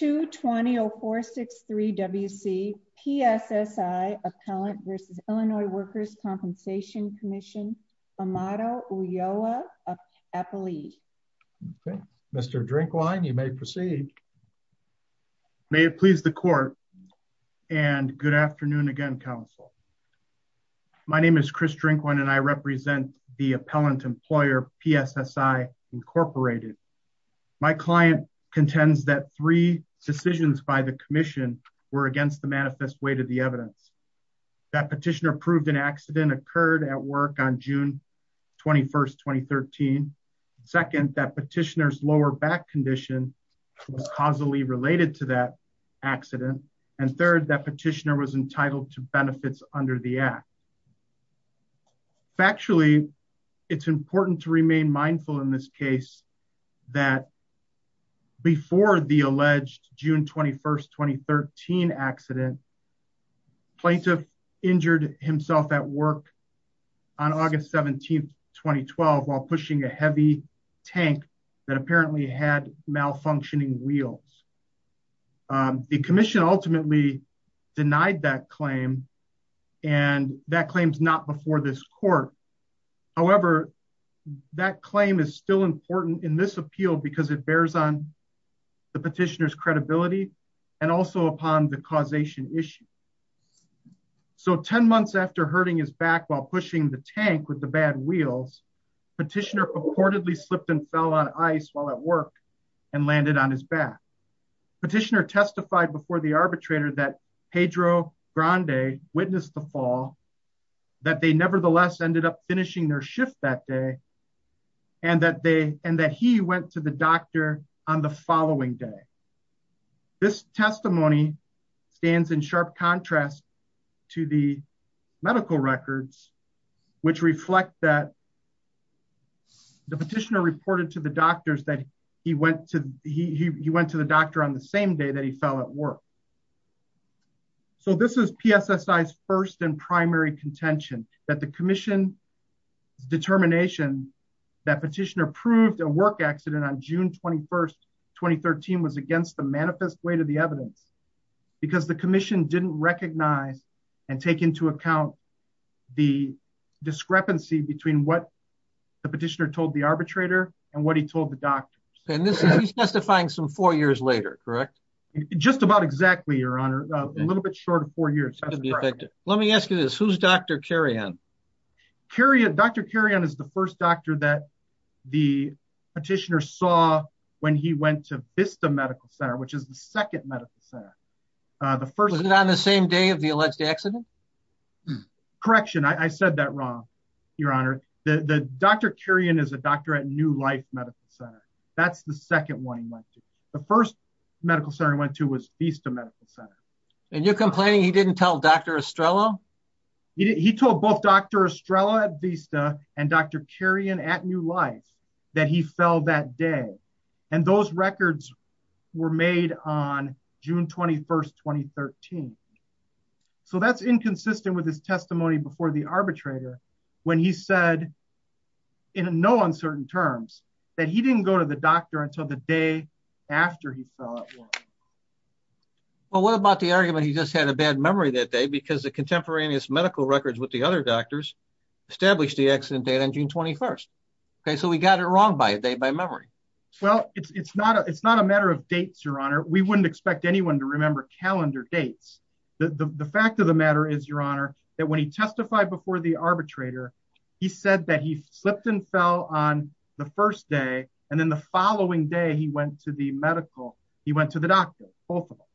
220-463-WC PSSI Appellant v. Illinois Workers' Compensation Commission, Amado Uyoha-Apelie. Mr. Drinkwine, you may proceed. May it please the court and good afternoon again, Council. My name is Chris Drinkwine and I represent the appellant employer PSSI Incorporated. My client contends that three decisions by the commission were against the manifest weight of the evidence. That petitioner proved an accident occurred at work on June 21, 2013. Second, that petitioner's lower back condition was causally related to that accident. And third, that petitioner was entitled to benefits under the act. Factually, it's important to remain mindful in this case that before the alleged June 21, 2013 accident, plaintiff injured himself at work on August 17, 2012, while pushing a heavy tank that apparently had malfunctioning wheels. The commission ultimately denied that claim and that claim is not before this court. However, that claim is still important in this appeal because it bears on the petitioner's credibility and also upon the causation issue. So 10 months after hurting his back while pushing the tank with the bad wheels, petitioner purportedly slipped and fell on ice while at work and landed on his back. Petitioner testified before the arbitrator that Pedro Grande witnessed the fall, that they nevertheless ended up finishing their shift that day, and that he went to the doctor on the following day. This testimony stands in sharp contrast to the medical records, which reflect that the petitioner reported to the doctors that he went to the doctor on the same day that he fell at work. So this is PSSI's first and primary contention, that the commission's determination that petitioner proved a work accident on June 21, 2013 was against the manifest weight of the evidence because the commission didn't recognize and take into account the discrepancy between what petitioner told the arbitrator and what he told the doctors. And he's testifying some four years later, correct? Just about exactly, your honor. A little bit short of four years. Let me ask you this. Who's Dr. Carrion? Dr. Carrion is the first doctor that the petitioner saw when he went to Vista Medical Center, which is the second medical center. Was it on the same day of the alleged accident? Correction, I said that wrong, your honor. Dr. Carrion is a doctor at New Life Medical Center. That's the second one he went to. The first medical center he went to was Vista Medical Center. And you're complaining he didn't tell Dr. Estrella? He told both Dr. Estrella at Vista and Dr. Carrion at New Life that he fell that day, and those records were made on June 21, 2013. So that's inconsistent with his testimony before the arbitrator when he said in no uncertain terms that he didn't go to the doctor until the day after he fell. Well, what about the argument he just had a bad memory that day because the contemporaneous medical records with the other doctors established the accident date on June 21st? Okay, so we got it wrong by a day by memory. Well, it's not a matter of dates, your honor. We wouldn't expect anyone to remember calendar dates. The fact of the matter is, your honor, that when he testified before the arbitrator, he said that he slipped and fell on the first day, and then the following day he went to the medical, he went to the doctor, both of them.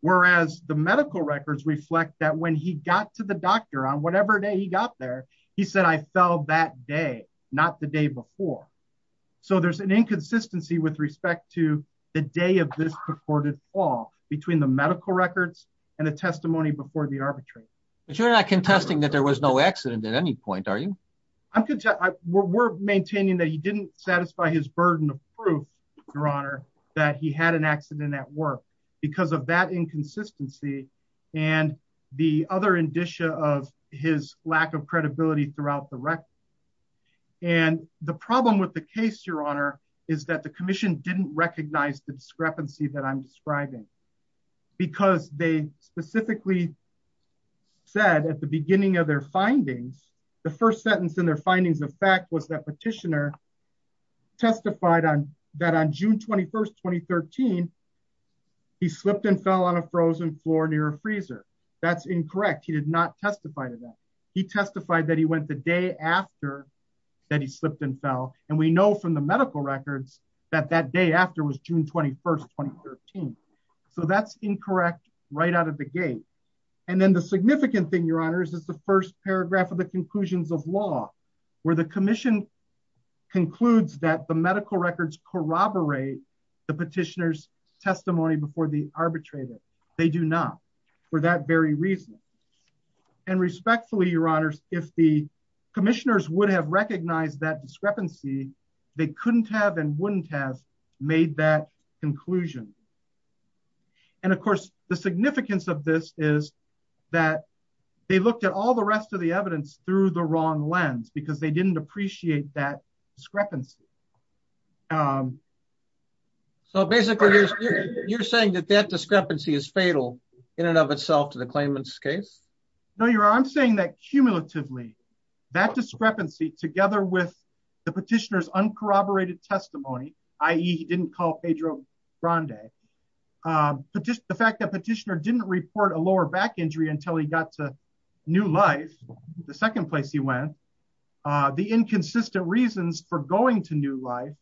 Whereas the medical records reflect that when he got to the doctor on whatever day he got there, he said, I fell that day, not the day before. So there's an inconsistency with respect to the day of this purported fall between the medical records and the testimony before the arbitrator. But you're not contesting that there was no accident at any point, are you? We're maintaining that he didn't satisfy his burden of proof, your honor, that he had an accident at work because of that inconsistency and the other indicia of his lack of credibility throughout the record. And the problem with the case, your honor, is that the commission didn't recognize the discrepancy that I'm describing, because they specifically said at the beginning of their findings, the first sentence in their findings of fact was that petitioner testified on that on June 21st, 2013, he slipped and fell on a frozen floor near a freezer. That's incorrect. He did not testify to that. He testified that he went the day after that he slipped and fell. And we know from the medical records that that day after was June 21st, 2013. So that's incorrect right out of the gate. And then the significant thing, your honors, is the first paragraph of the conclusions of law, where the commission concludes that the medical records corroborate the petitioner's testimony before the arbitrator, they do not, for that very reason. And respectfully, your honors, if the commissioners would have recognized that discrepancy, they couldn't have and wouldn't have made that conclusion. And of course, the significance of this is that they looked at all the rest of the evidence through the wrong lens because they didn't appreciate that discrepancy. So basically, you're saying that that discrepancy is fatal in and of itself to the claimant's case? No, your honor, I'm saying that cumulatively, that discrepancy together with the petitioner's uncorroborated testimony, i.e. he didn't call Pedro Grande, the fact that petitioner didn't report a lower back injury until he got to New Life, the second place he went, the inconsistent reasons for going to New Life,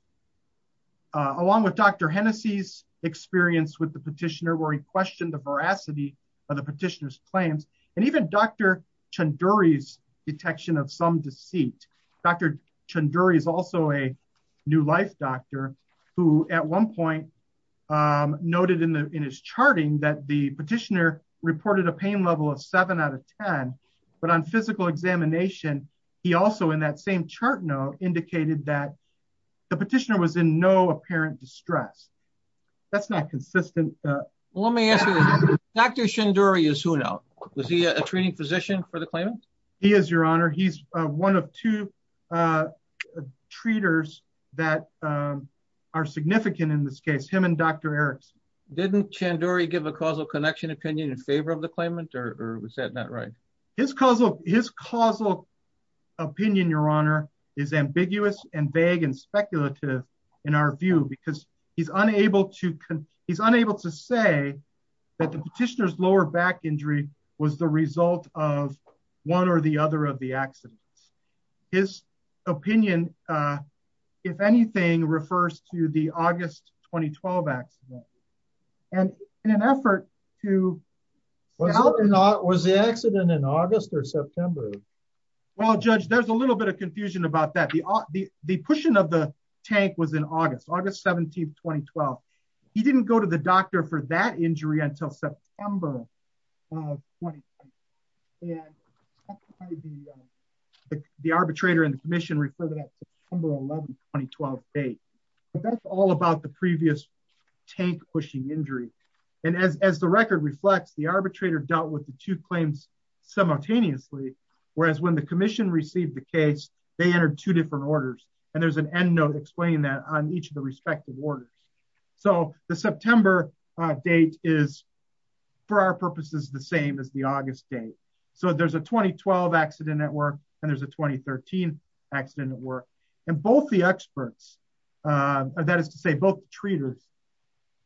along with Dr. Hennessey's experience with the petitioner where he questioned the veracity of the petitioner's claims, and even Dr. Chanduri's detection of some deceit. Dr. Chanduri is also a New Life doctor, who at one point noted in his charting that the petitioner reported a pain level of seven out of 10. But on physical examination, he also in that same chart note indicated that the petitioner was in no apparent distress. That's not consistent. Let me ask you, Dr. Chanduri is who now? Was he a treating physician for the claimant? He is, your honor. He's one of two treaters that are significant in this case, him and Dr. Erickson. Didn't Chanduri give a causal connection opinion in favor of the claimant? Or was that not right? His causal opinion, your honor, is ambiguous and vague and speculative in our view, because he's unable to say that the petitioner's lower back injury was the result of one or the other of the accidents. His opinion, if anything, refers to the August 2012 accident. And in an effort to... Was the accident in August or September? Well, Judge, there's a little bit of confusion about that. The pushing of the tank was in August, August 17th, 2012. He didn't go to the doctor for that injury until September of 2012. And the arbitrator and the commission refer to that September 11th, 2012 date. But that's all about the previous tank pushing injury. And as the record reflects, the arbitrator dealt with the two claims simultaneously. Whereas when the commission received the case, they entered two different orders. And there's an end note explaining that on each of the purposes the same as the August date. So there's a 2012 accident at work, and there's a 2013 accident at work. And both the experts, that is to say, both the treaters,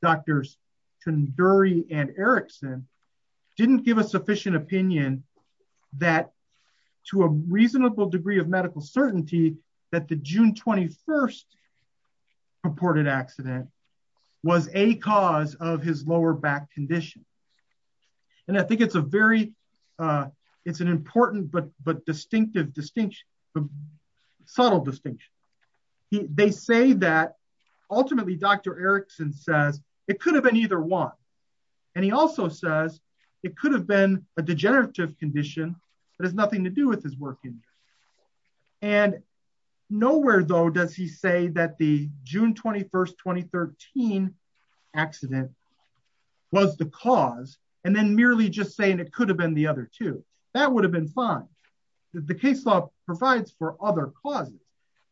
Drs. Conduri and Erickson, didn't give a sufficient opinion that to a reasonable degree of medical certainty, that the June 21st reported accident was a cause of his lower back condition. And I think it's a very, it's an important but distinctive distinction, subtle distinction. They say that ultimately Dr. Erickson says it could have been either one. And he also says it could have been a degenerative condition that has nothing to do with his work injury. And nowhere though does he say that the June 21st, 2013 accident was the cause. And then merely just saying it could have been the other two, that would have been fine. The case law provides for other causes.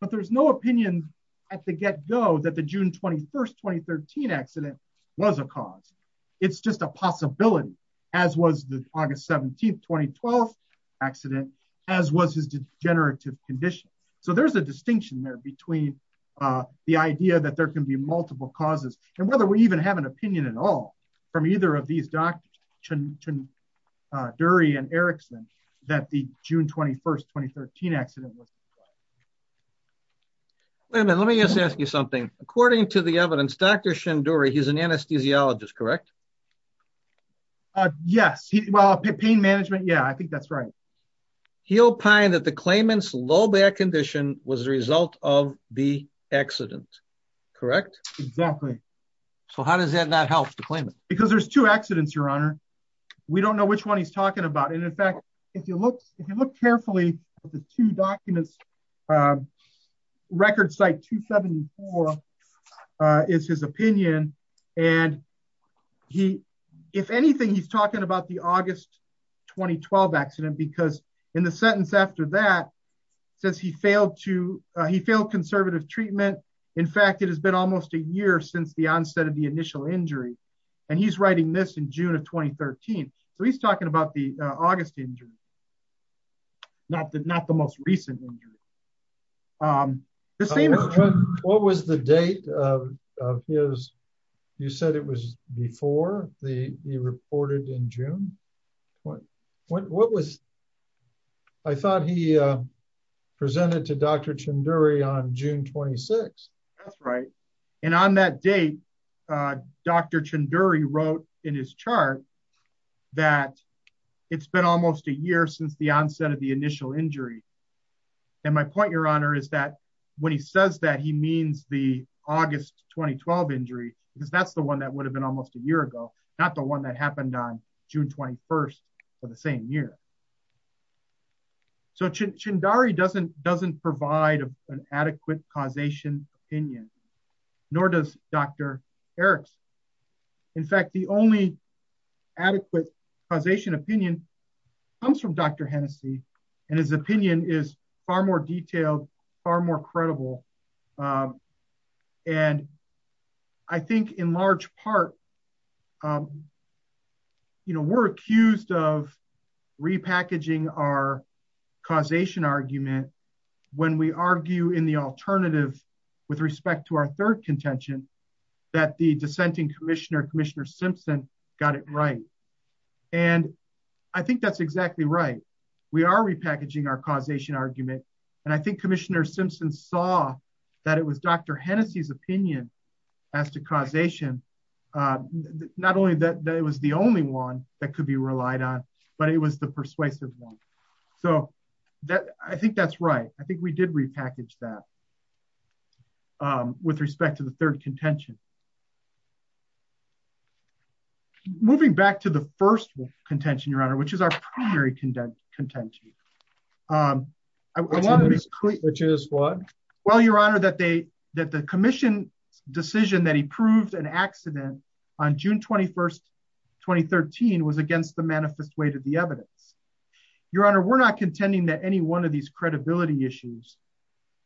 But there's no opinion at the get go that the June 21st, 2013 accident was a cause. It's just a possibility, as was the August 17th, 2012 accident, as was his degenerative condition. So there's a distinction there between the idea that there can be multiple causes, and whether we even have an opinion at all from either of these Dr. Dury and Erickson, that the June 21st, 2013 accident was. Wait a minute, let me just ask you something. According to the evidence, Dr. Shen Dury, he's an anesthesiologist, correct? Yes. Well, pain management. Yeah, I think that's right. He opined that the claimant's low back condition was the result of the accident, correct? Exactly. So how does that not help the claimant? Because there's two accidents, Your Honor. We don't know which one he's talking about. And in fact, if you look carefully at the two documents, record site 274 is his opinion. And if anything, he's talking about the August 2012 accident, because in the sentence after that, says he failed conservative treatment. In fact, it has been almost a year since the onset of the initial injury. And he's writing this in June of 2013. So he's talking about the August injury, not the most recent injury. What was the date of his, you said it was before he reported in June? What? What was? I thought he presented to Dr. Shen Dury on June 26. That's right. And on that date, Dr. Shen Dury wrote in his chart that it's been almost a year since the onset of the initial injury. And my point, Your Honor, is that when he says that he means the August 2012 injury, because that's the one that would have been almost a year ago, not the one that happened on June 21, for the same year. So Shen Dury doesn't doesn't provide an adequate causation opinion, nor does Dr. Erickson. In fact, the only adequate causation opinion comes from Dr. Hennessey, and his opinion is far more detailed, far more credible. And I think in large part, you know, we're accused of repackaging our causation argument, when we argue in the alternative, with respect to our third contention, that the dissenting commissioner, Commissioner Simpson got it right. And I think that's exactly right. We are repackaging our causation argument. And I think Commissioner Simpson saw that it was Dr. Hennessey's opinion as to causation, not only that it was the only one that could be relied on, but it was the persuasive one. So that I think that's right. I think we did repackage that with respect to the third contention. Moving back to the first contention, Your Honor, which is our primary content, content to you. I want to be clear, which is what? Well, Your Honor, that they that the commission decision that he proved an accident on June 21, 2013, was against the manifest way to the evidence. Your Honor, we're not contending that any one of these credibility issues,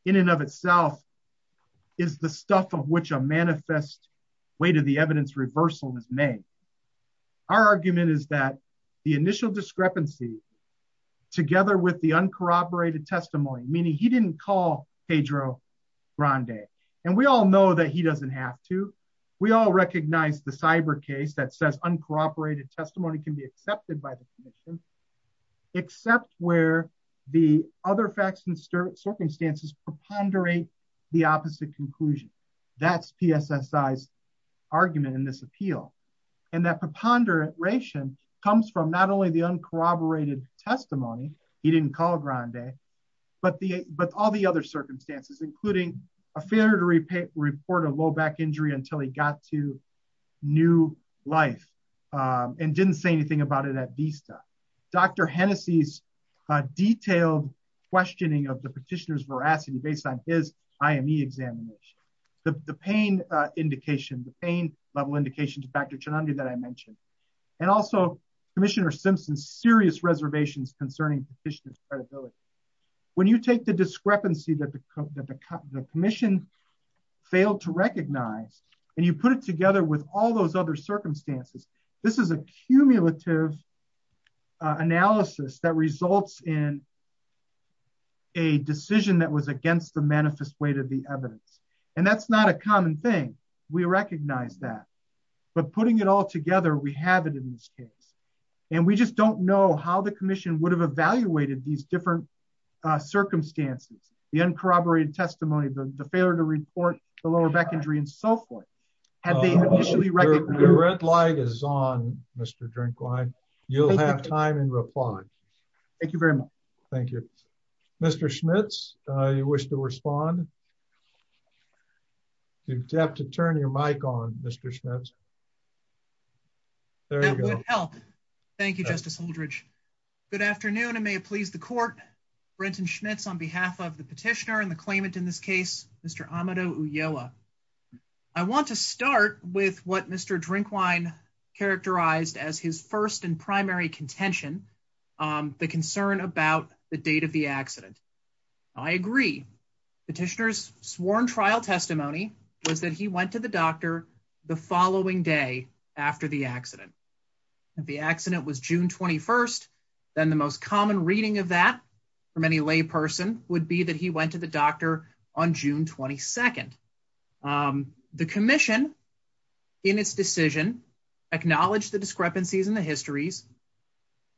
in and of itself, is the stuff of which a manifest way to the evidence reversal is made. Our argument is that the initial discrepancy, together with the uncorroborated testimony, meaning he didn't call Pedro Grande, and we all know that he doesn't have to, we all recognize the cyber case that says uncorroborated testimony can be accepted by the commission, except where the other facts and circumstances preponderate the opposite conclusion. That's PSSI's argument in this appeal. And that preponderation comes from not only the uncorroborated testimony, he didn't call Grande, but all the other circumstances, including a failure to report a low back injury until he got to new life, and didn't say anything about it at Vista. Dr. Hennessey's detailed questioning of the petitioner's veracity based on his IME examination, the pain indication, the pain level indication to Dr. Chonundri that I mentioned, and also Commissioner Simpson's serious reservations concerning petitioner's credibility. When you take the discrepancy that the commission failed to recognize, and you put it together with all those other circumstances, this is a cumulative analysis that results in a decision that was against the manifest weight of the evidence. And that's not a common thing, we recognize that. But putting it all together, we have it in this case. And we just don't know how the commission would have evaluated these different circumstances, the uncorroborated testimony, the failure to report the lower back injury, and so forth. The red light is on, Mr. Drinkwine. You'll have time and reply. Thank you very much. Thank you. Mr. Schmitz, you wish to respond? You have to turn your mic on, Mr. Schmitz. That would help. Thank you, Justice Holdredge. Good afternoon, and may it please the court, Brenton Schmitz on behalf of the petitioner and the claimant in this case, Mr. Amado Uyoa. I want to start with what Mr. Drinkwine characterized as his first and primary contention, the concern about the date of the accident. I agree. Petitioner's sworn trial testimony was that he went to the doctor the following day after the accident. The accident was June 21st. The most common reading of that from any layperson would be that he went to the doctor on June 22nd. The commission, in its decision, acknowledged the discrepancies in the histories,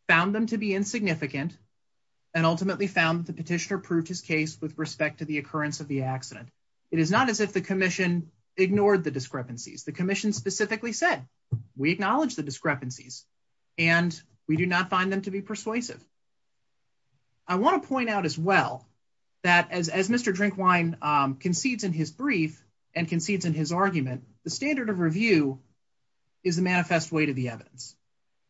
found them to be insignificant, and ultimately found the petitioner proved his case with respect to the occurrence of the accident. It is not as if the commission ignored the discrepancies. The commission specifically said, we acknowledge the discrepancies, and we do not find them to be persuasive. I want to point out as well that as Mr. Drinkwine concedes in his brief and concedes in his argument, the standard of review is the manifest way to the evidence.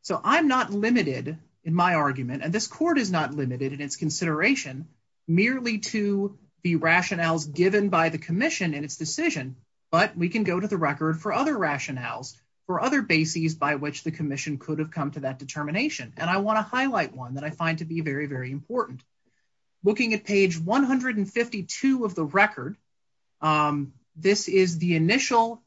So I'm not limited in my argument, and this court is not limited in its consideration, merely to the rationales given by the commission in its decision, but we can go to the record for other rationales, for other bases by which the commission could have come to that determination. I want to highlight one that I find to be very, very important. Looking at page 152 of the record, this is the initial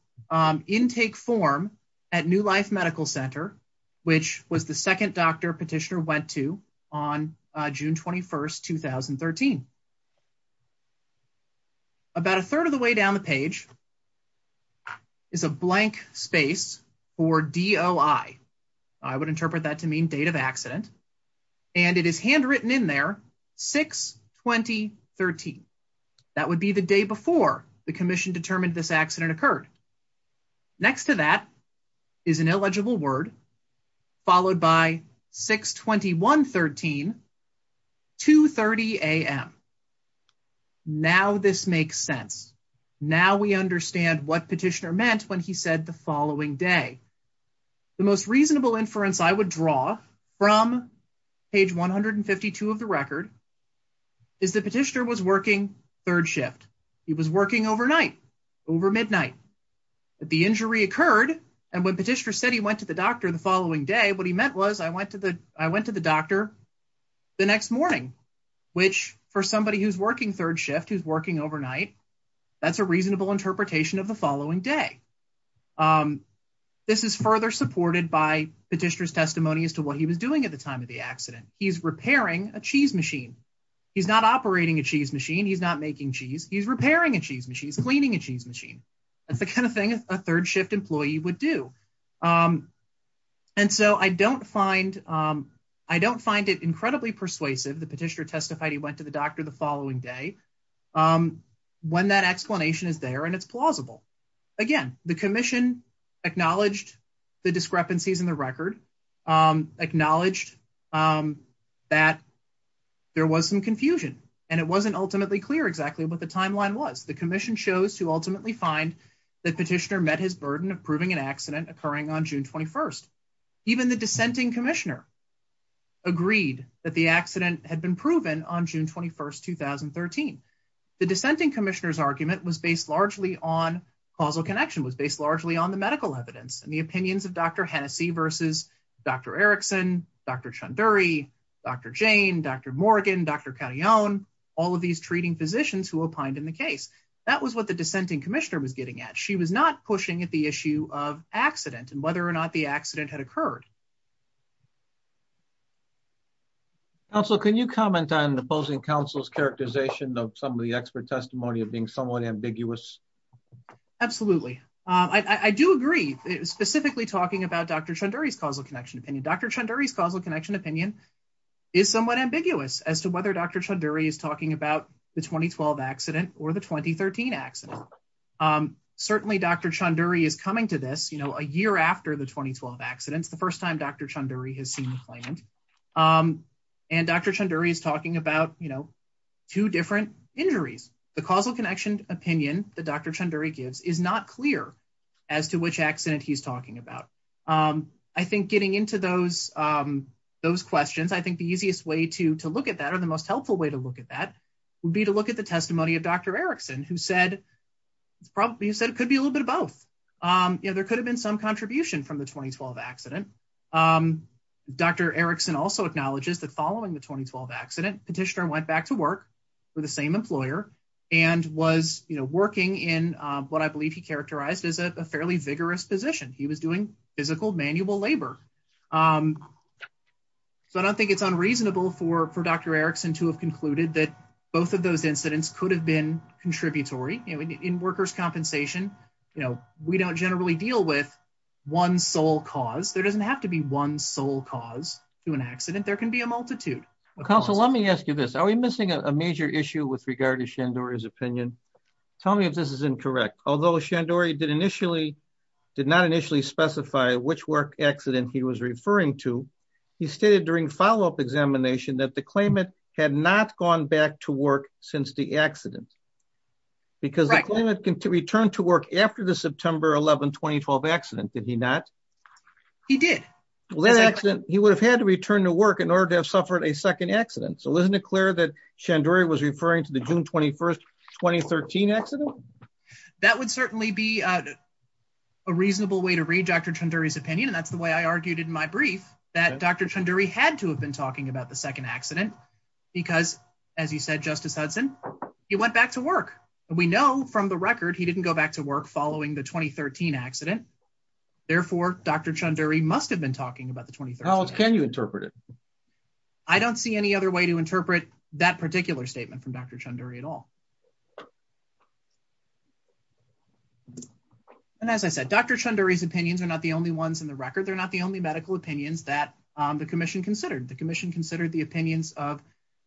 intake form at New Life Medical Center, which was the second doctor petitioner went to on June 21st, 2013. About a third of the way down the page is a blank space for DOI. I would interpret that to mean date of accident, and it is handwritten in there, 6-20-13. That would be the day before the commission determined this accident occurred. Next to that is an illegible word, followed by 6-21-13, 2-30 a.m. Now this makes sense. Now we understand what petitioner meant when he said the following day. The most reasonable inference I would draw from page 152 of the record is that petitioner was working third shift. He was working overnight, over midnight. The injury occurred, and when petitioner said he went to the doctor the following day, what he meant was I went to the doctor the next morning, which for somebody who's working third shift, who's working overnight, that's a reasonable interpretation of the following day. This is further supported by petitioner's testimony as to what he was doing at the time of the accident. He's repairing a cheese machine. He's not operating a cheese machine. He's not making cheese. He's repairing a cheese machine. He's cleaning a cheese machine. That's the kind of thing a third shift employee would do, and so I don't find it incredibly persuasive that petitioner testified he went to the doctor the following day when that explanation is there, and it's plausible. Again, the commission acknowledged the discrepancies in the record, acknowledged that there was some confusion, and it wasn't ultimately clear exactly what the timeline was. The commission chose to ultimately find that petitioner met his burden of proving an accident occurring on June 21st. Even the dissenting commissioner agreed that the accident had been proven on June 21st, 2013. The dissenting commissioner's argument was based largely on causal connection, was based largely on the medical evidence and the opinions of Dr. Hennessey versus Dr. Erickson, Dr. Chanduri, Dr. Jane, Dr. Morgan, Dr. Carione, all of these treating physicians who opined in the case. That was what the dissenting commissioner was getting at. She was not pushing at the issue of accident and whether or not the accident had occurred. Counsel, can you comment on the opposing counsel's characterization of some of the expert testimony of being somewhat ambiguous? Absolutely. I do agree, specifically talking about Dr. Chanduri's causal connection opinion. Dr. Chanduri's causal connection opinion is somewhat ambiguous as to whether Dr. Chanduri is talking about the 2012 accident or the 2013 accident. Certainly, Dr. Chanduri is coming to this, you know, a year after the 2012 accidents, the first time Dr. Chanduri has seen the claimant. And Dr. Chanduri is talking about, you know, two different injuries. The causal connection opinion that Dr. Chanduri gives is not clear as to which accident he's talking about. I think getting into those questions, I think the easiest way to look at that or the most helpful way to look at that would be to look at the testimony of Dr. Erickson, who said it could be a little bit of both. You know, there could have been some Dr. Erickson also acknowledges that following the 2012 accident petitioner went back to work with the same employer and was, you know, working in what I believe he characterized as a fairly vigorous position. He was doing physical manual labor. So I don't think it's unreasonable for Dr. Erickson to have concluded that both of those incidents could have been contributory in workers' compensation. You know, we don't generally deal with one sole cause. There doesn't have to be one sole cause to an accident. There can be a multitude. Counsel, let me ask you this. Are we missing a major issue with regard to Chanduri's opinion? Tell me if this is incorrect. Although Chanduri did initially, did not initially specify which work accident he was referring to, he stated during follow-up examination that the claimant had not gone back to work since the accident. Because the claimant returned to work after the September 11, 2012 accident, did he not? He did. Well, that accident, he would have had to return to work in order to have suffered a second accident. So isn't it clear that Chanduri was referring to the June 21, 2013 accident? That would certainly be a reasonable way to read Dr. Chanduri's opinion. And that's the way I argued in my brief that Dr. Chanduri had to have been talking about the second accident. Because as you said, Justice Hudson, he went back to work. And we know from the record, he didn't go back to work following the 2013 accident. Therefore, Dr. Chanduri must have been talking about the 2013. How else can you interpret it? I don't see any other way to interpret that particular statement from Dr. Chanduri at all. And as I said, Dr. Chanduri's opinions are not the only ones in the record. They're not the only opinions that the commission considered. The commission considered the opinions of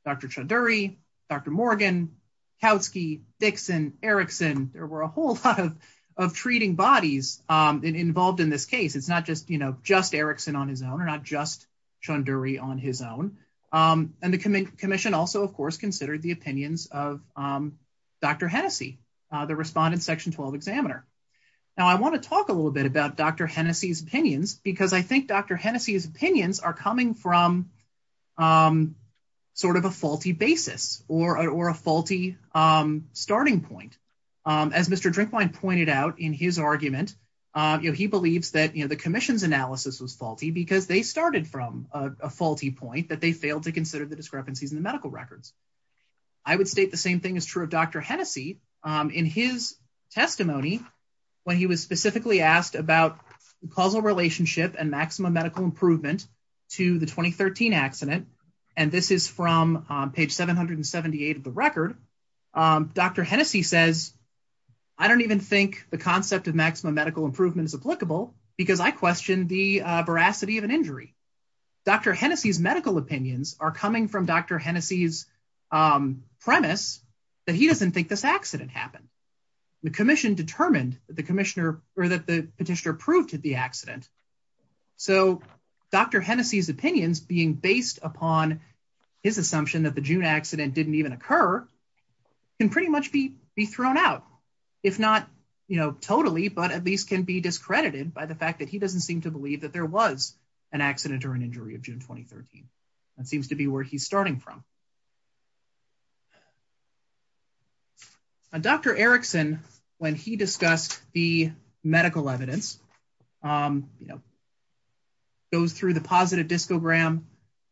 Dr. Chanduri, Dr. Morgan, Kautsky, Dixon, Erickson. There were a whole lot of treating bodies involved in this case. It's not just, you know, just Erickson on his own or not just Chanduri on his own. And the commission also, of course, considered the opinions of Dr. Hennessey, the respondent section 12 examiner. Now, I want to talk a little bit about Dr. Hennessey's opinions are coming from sort of a faulty basis or a faulty starting point. As Mr. Drinkwine pointed out in his argument, he believes that the commission's analysis was faulty because they started from a faulty point that they failed to consider the discrepancies in the medical records. I would state the same thing is true of Dr. Hennessey in his testimony when he was specifically asked about causal relationship and maximum medical improvement to the 2013 accident. And this is from page 778 of the record. Dr. Hennessey says, I don't even think the concept of maximum medical improvement is applicable because I questioned the veracity of an injury. Dr. Hennessey's medical opinions are coming from Dr. Hennessey's premise that he doesn't think this accident happened. The commission determined that the commissioner or that the petitioner approved the accident. So Dr. Hennessey's opinions being based upon his assumption that the June accident didn't even occur can pretty much be thrown out, if not, you know, totally, but at least can be discredited by the fact that he doesn't seem to believe that there was an accident or an injury of June 2013. That seems to be where he's starting from. Now, Dr. Erickson, when he discussed the medical evidence, you know, goes through the positive discogram,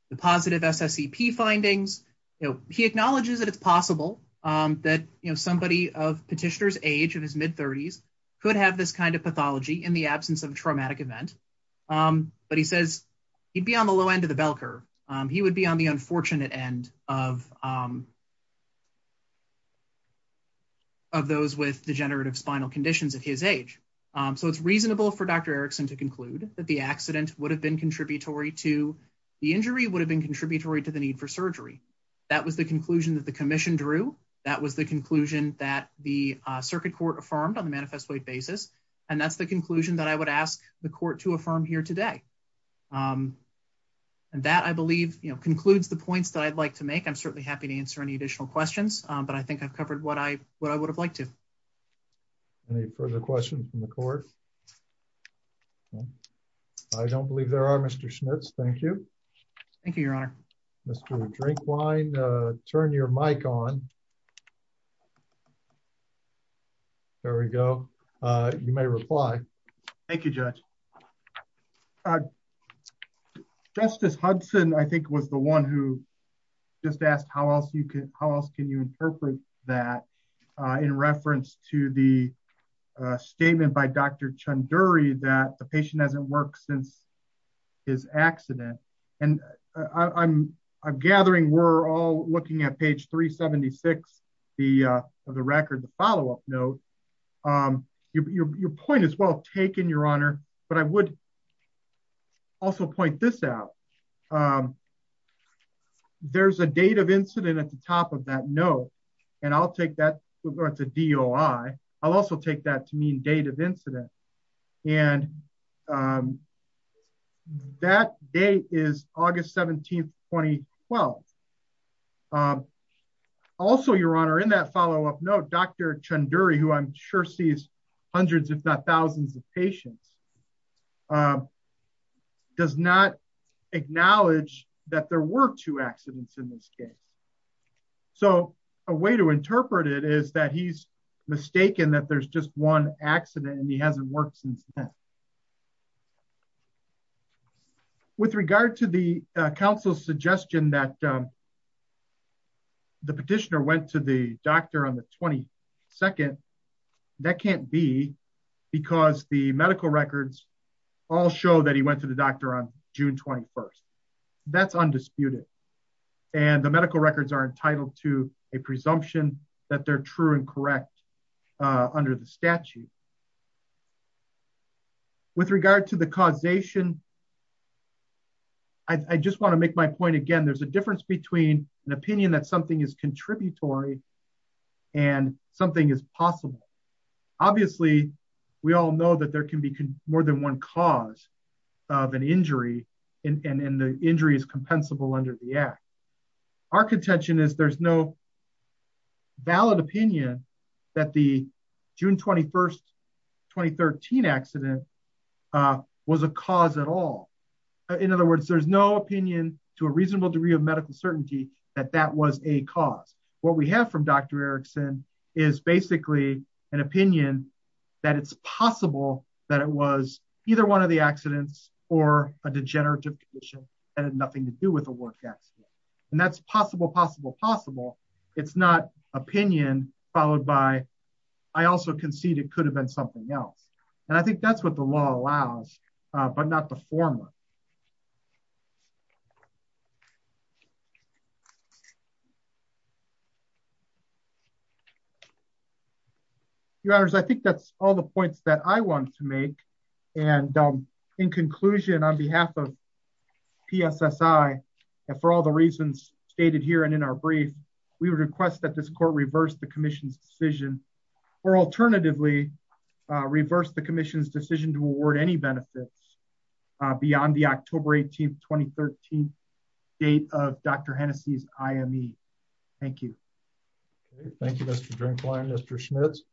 the positive SSEP findings, you know, he acknowledges that it's possible that, you know, somebody of petitioner's age of his mid thirties could have this kind of pathology in the absence of a traumatic event. But he says he'd be on the low end of the bell curve. He would be on the unfortunate end of those with degenerative spinal conditions at his age. So it's reasonable for Dr. Erickson to conclude that the accident would have been contributory to the injury would have been contributory to the need for surgery. That was the conclusion that the commission drew. That was the conclusion that the circuit court affirmed on the manifest weight basis. And that's the conclusion that I would ask the court to affirm here today. Um, and that, I believe, you know, concludes the points that I'd like to make. I'm certainly happy to answer any additional questions, but I think I've covered what I what I would have liked to. Any further questions from the court? I don't believe there are Mr. Schmitz. Thank you. Thank you, Your Honor. Mr. Drinkwine, turn your mic on. There we go. You may reply. Thank you, Judge. Justice Hudson, I think, was the one who just asked how else you could, how else can you interpret that in reference to the statement by Dr. Chanduri that the patient hasn't worked since his accident? And I'm gathering we're all looking at page 376 of the record, the follow-up note. Your point is well taken, Your Honor, but I would also point this out. There's a date of incident at the top of that note, and I'll take that, or it's a DOI. I'll take that to mean date of incident, and that date is August 17, 2012. Also, Your Honor, in that follow-up note, Dr. Chanduri, who I'm sure sees hundreds, if not thousands of patients, does not acknowledge that there were two accidents in this case. So a way to interpret it is that he's mistaken that there's just one accident and he hasn't worked since then. With regard to the counsel's suggestion that the petitioner went to the doctor on the 22nd, that can't be because the medical records all show that he went to the doctor on June 21st. That's undisputed, and the medical records are correct under the statute. With regard to the causation, I just want to make my point again. There's a difference between an opinion that something is contributory and something is possible. Obviously, we all know that there can be more than one cause of an injury, and the injury is compensable under the act. Our contention is there's no valid opinion that the June 21, 2013 accident was a cause at all. In other words, there's no opinion to a reasonable degree of medical certainty that that was a cause. What we have from Dr. Erickson is basically an opinion that it's possible that it was either one of the accidents or a degenerative condition that had nothing to do with the work accident. That's possible, possible, possible. It's not opinion followed by, I also concede it could have been something else. I think that's what the law allows, but not the former. Your Honors, I think that's all the points that I want to make. In conclusion, on behalf of PSSI, and for all the reasons stated here and in our brief, we would request that this court reverse the commission's decision, or alternatively reverse the commission's decision to award any benefits beyond the October 18, 2013 date of Dr. Hennessey's IME. Thank you. Thank you, Mr. Drinkwine, Mr. Schmitz.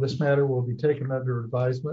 This matter will be taken under advisement.